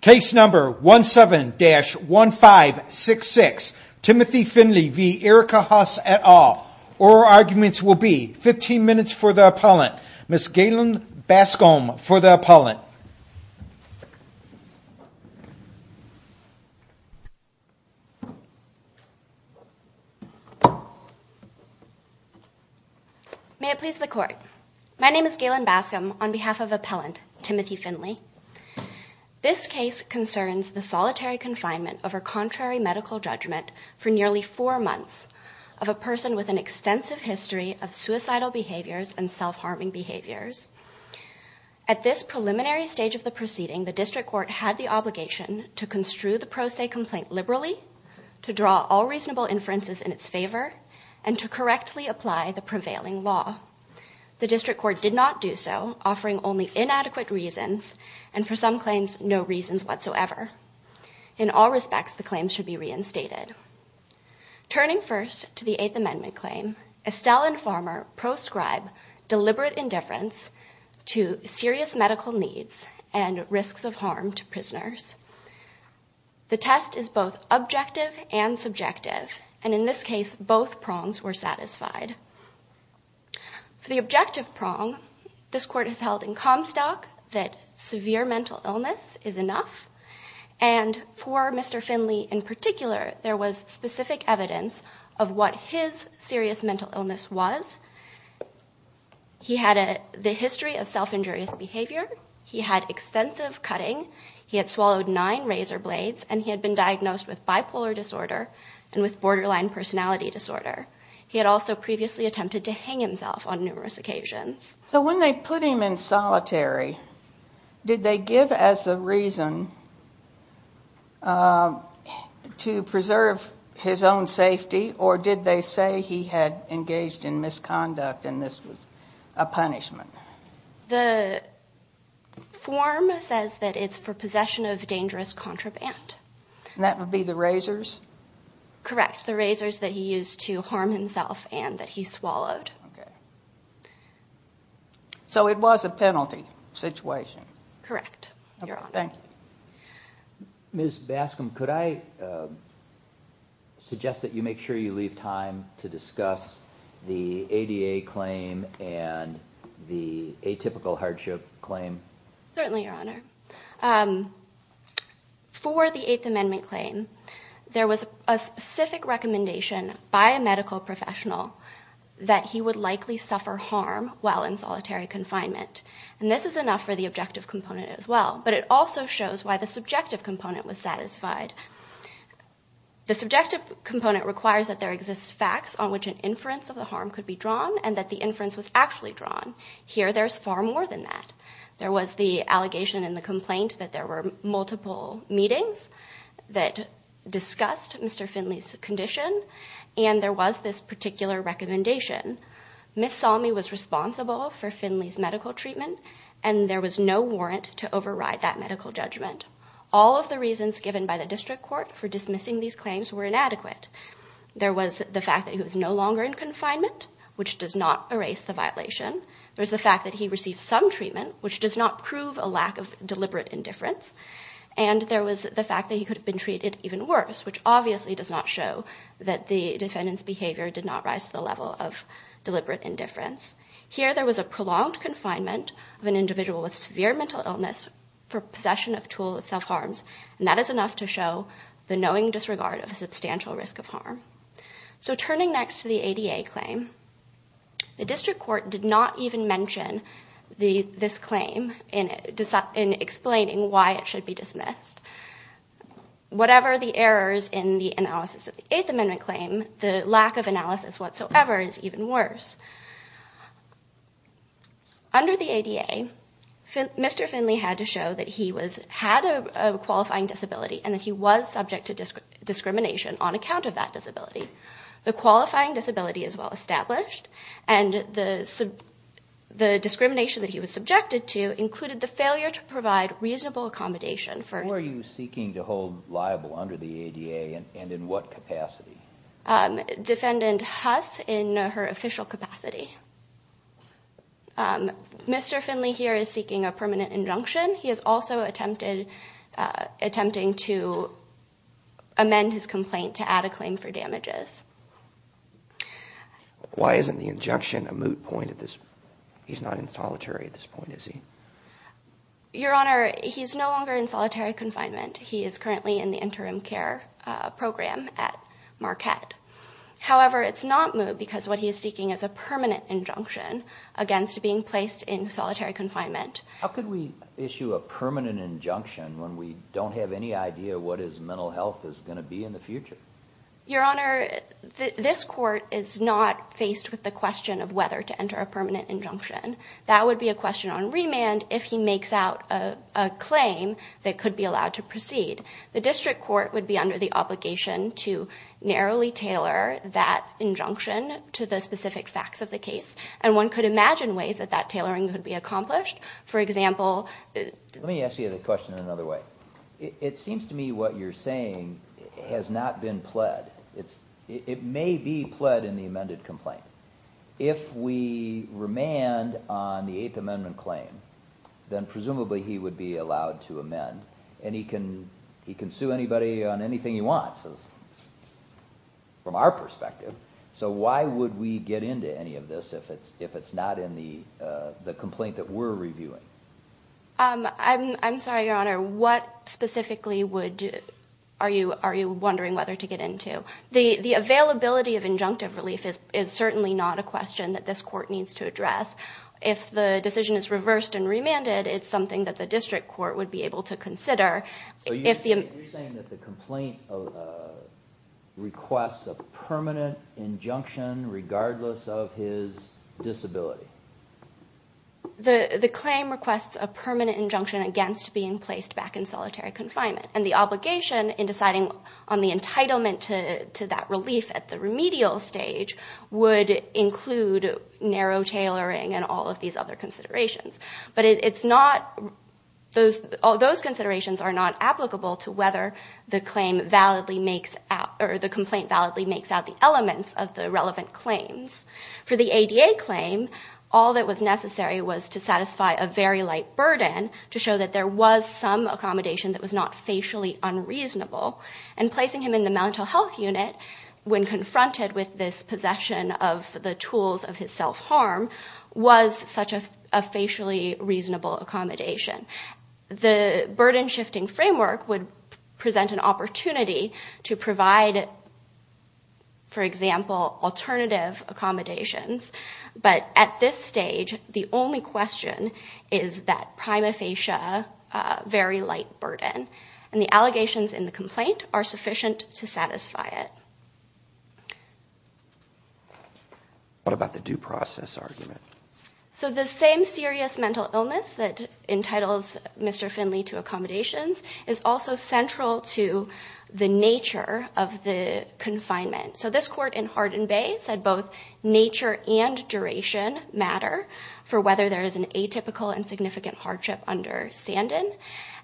Case number 17-1566, Timothy Finley v. Erica Huss et al. Oral arguments will be 15 minutes for the appellant. Ms. Galen Bascom for the appellant. May it please the court. My name is Galen Bascom on behalf of This case concerns the solitary confinement of a contrary medical judgment for nearly four months of a person with an extensive history of suicidal behaviors and self-harming behaviors. At this preliminary stage of the proceeding, the district court had the obligation to construe the pro se complaint liberally, to draw all reasonable inferences in its favor, and to correctly apply the prevailing law. The district court did not do so, offering only inadequate reasons, and for some claims, no reasons whatsoever. In all respects, the claims should be reinstated. Turning first to the Eighth Amendment claim, Estelle and Farmer proscribe deliberate indifference to serious medical needs and risks of harm to prisoners. The test is both objective and subjective, and in this case, both prongs were satisfied. For the objective prong, this court has held in Comstock that severe mental illness is enough, and for Mr. Finley in particular, there was specific evidence of what his serious mental illness was. He had the history of self-injurious behavior. He had extensive cutting. He had swallowed nine razor blades, and he had been diagnosed with bipolar disorder and with borderline personality disorder. He had also previously attempted to commit suicide. When he was put in solitary, did they give as a reason to preserve his own safety, or did they say he had engaged in misconduct and this was a punishment? The form says that it's for possession of dangerous contraband. And that would be the razors? Correct, the razors that he used to harm himself and that he swallowed. Okay, so it was a penalty situation? Correct, Your Honor. Thank you. Ms. Bascom, could I suggest that you make sure you leave time to discuss the ADA claim and the atypical hardship claim? Certainly, Your Honor. For the Eighth Amendment claim, there was a specific recommendation by a medical professional that he would likely suffer harm while in solitary confinement. And this is enough for the objective component as well, but it also shows why the subjective component was satisfied. The subjective component requires that there exist facts on which an inference of the harm could be drawn and that the inference was actually drawn. Here, there's far more than that. There was the allegation in the complaint that there were multiple meetings that discussed Mr. Finley's condition and there was this particular recommendation. Ms. Salmi was responsible for Finley's medical treatment and there was no warrant to override that medical judgment. All of the reasons given by the district court for dismissing these claims were inadequate. There was the fact that he was no longer in confinement, which does not erase the violation. There's the fact that he received some treatment, which does not prove a lack of deliberate indifference. And there was the fact that he could have been treated even worse, which obviously does not show that the defendant's behavior did not rise to the level of deliberate indifference. Here, there was a prolonged confinement of an individual with severe mental illness for possession of tools of self-harms, and that is enough to show the knowing disregard of a substantial risk of harm. So turning next to the ADA claim, the district court did not even mention this claim in explaining why it should be dismissed. Whatever the errors in the analysis of the Eighth Amendment claim, the lack of analysis whatsoever is even worse. Under the ADA, Mr. Finley had to show that he had a qualifying disability and that he was subject to discrimination on account of that disability. The qualifying disability is well established and the discrimination that he was subjected to included the failure to provide reasonable accommodation for... Who are you seeking to hold liable under the ADA and in what capacity? Defendant Huss in her official capacity. Mr. Finley here is seeking a permanent injunction. He is also attempting to amend his complaint to add a claim for damages. Why isn't the injunction a moot point at this point? He's not in solitary at this point, is he? Your Honor, he's no longer in solitary confinement. He is currently in the interim care program at Marquette. However, it's not moot because what he is seeking is a permanent injunction against being placed in solitary confinement. How could we issue a permanent injunction when we don't have any idea what his mental health is going to be in the future? Your Honor, this court is not faced with the question of whether to enter a permanent injunction. That would be a question on remand if he makes out a claim that could be allowed to proceed. The district court would be under the obligation to narrowly tailor that injunction to the specific facts of the case and one could imagine ways that that tailoring could be accomplished. For example... Let me ask you the question in another way. It seems to me what you're saying is that it may be pled in the amended complaint. If we remand on the Eighth Amendment claim, then presumably he would be allowed to amend and he can sue anybody on anything he wants from our perspective. So why would we get into any of this if it's not in the complaint that we're reviewing? I'm sorry, Your Honor. What specifically are you wondering whether to get into? The availability of injunctive relief is certainly not a question that this court needs to address. If the decision is reversed and remanded, it's something that the district court would be able to consider. So you're saying that the complaint requests a permanent injunction regardless of his disability? The claim requests a permanent injunction against being placed back in solitary confinement and the obligation in deciding on the entitlement to that relief at the remedial stage would include narrow tailoring and all of these other considerations. But those considerations are not applicable to whether the complaint validly makes out the elements of the relevant claims. For the ADA claim, all that was necessary was to satisfy a very light burden to show that there was some accommodation that was not facially unreasonable. And placing him in the mental health unit when confronted with this possession of the tools of his self-harm was such a facially reasonable accommodation. The burden shifting framework would present an opportunity to provide, for example, alternative accommodations. But at this stage, the only question is that prima facie very light burden. And the allegations in the complaint are sufficient to satisfy it. What about the due process argument? So the same serious mental illness that entitles Mr. Finley to accommodations is also central to the nature of the confinement. So there is an atypical and significant hardship under Sandin.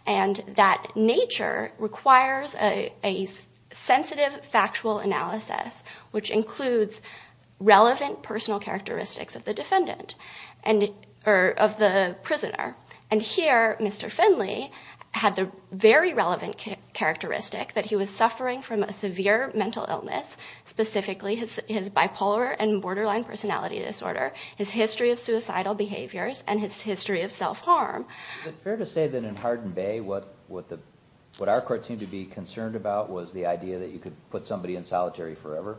And that nature requires a sensitive factual analysis, which includes relevant personal characteristics of the defendant and of the prisoner. And here, Mr. Finley had the very relevant characteristic that he was suffering from a severe mental illness, specifically his bipolar and borderline personality disorder, his history of suicidal behaviors, and his history of self-harm. Is it fair to say that in Hardin Bay, what our court seemed to be concerned about was the idea that you could put somebody in solitary forever?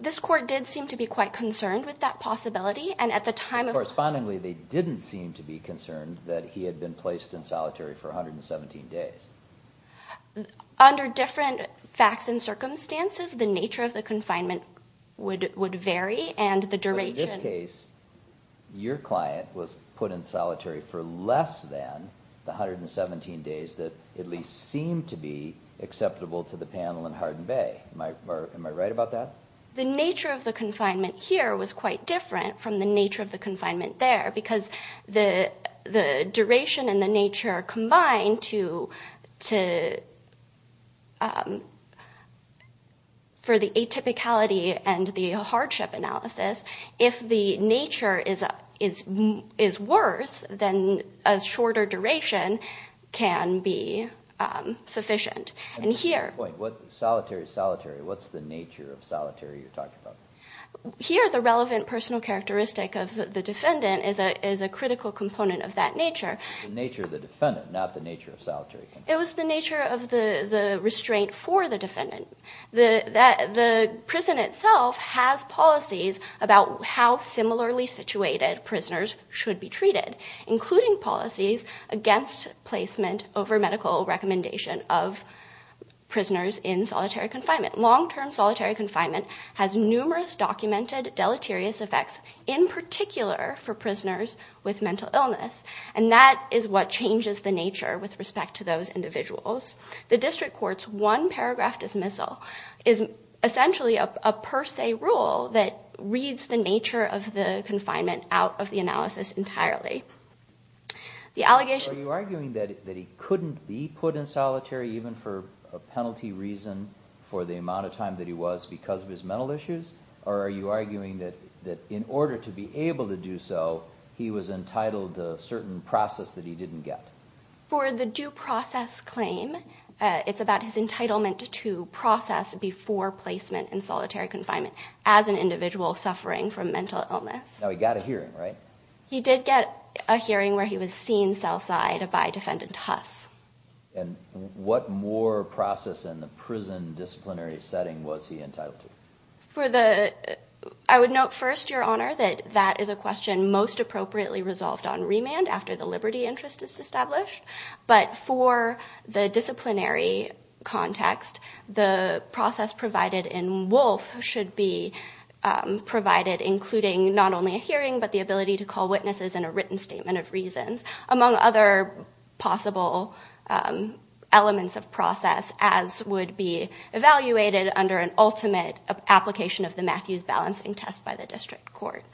This court did seem to be quite concerned with that possibility. And at the time of... Correspondingly, they didn't seem to be concerned that he had been placed in solitary for 117 days. Under different facts and circumstances, the nature of the confinement would vary and the duration... But in this case, your client was put in solitary for less than the 117 days that at least seemed to be acceptable to the panel in Hardin Bay. Am I right about that? The nature of the confinement here was quite different from the nature of the confinement there because the duration and the nature combined to... For the atypicality and the hardship analysis, if the nature is worse, then a shorter duration can be sufficient. And here... Wait, solitary, solitary, what's the nature of solitary you're talking about? Here, the relevant personal characteristic of the defendant is a critical component of that nature. The nature of the defendant, not the nature of solitary. It was the nature of the restraint for the defendant. The prison itself has policies about how similarly situated prisoners should be treated, including policies against placement over medical recommendation of documented deleterious effects in particular for prisoners with mental illness. And that is what changes the nature with respect to those individuals. The district court's one paragraph dismissal is essentially a per se rule that reads the nature of the confinement out of the analysis entirely. The allegations... Are you arguing that he couldn't be put in solitary even for or are you arguing that in order to be able to do so, he was entitled to a certain process that he didn't get? For the due process claim, it's about his entitlement to process before placement in solitary confinement as an individual suffering from mental illness. Now he got a hearing, right? He did get a hearing where he was seen cell side by defendant Huss. And what more process in the I would note first, your honor, that that is a question most appropriately resolved on remand after the liberty interest is established. But for the disciplinary context, the process provided in Wolf should be provided including not only a hearing, but the ability to call witnesses in a written statement of reasons among other possible elements of process as would be balanced in test by the district court.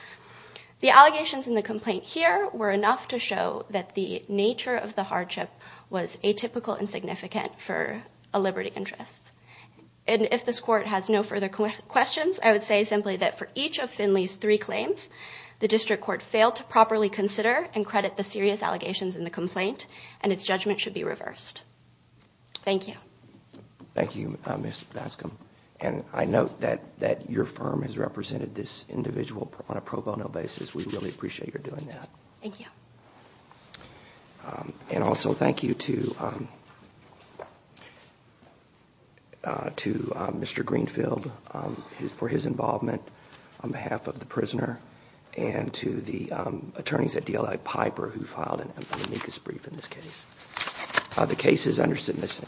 The allegations in the complaint here were enough to show that the nature of the hardship was atypical and significant for a liberty interest. And if this court has no further questions, I would say simply that for each of Finley's three claims, the district court failed to properly consider and credit the serious allegations in the complaint and its judgment should be reversed. Thank you. Thank you, Ms. Bascom. And I note that your firm has represented this individual on a pro bono basis. We really appreciate your doing that. Thank you. And also thank you to Mr. Greenfield for his involvement on behalf of the prisoner and to the attorneys at DLA Piper who filed an amicus brief in this case. The case is under submission.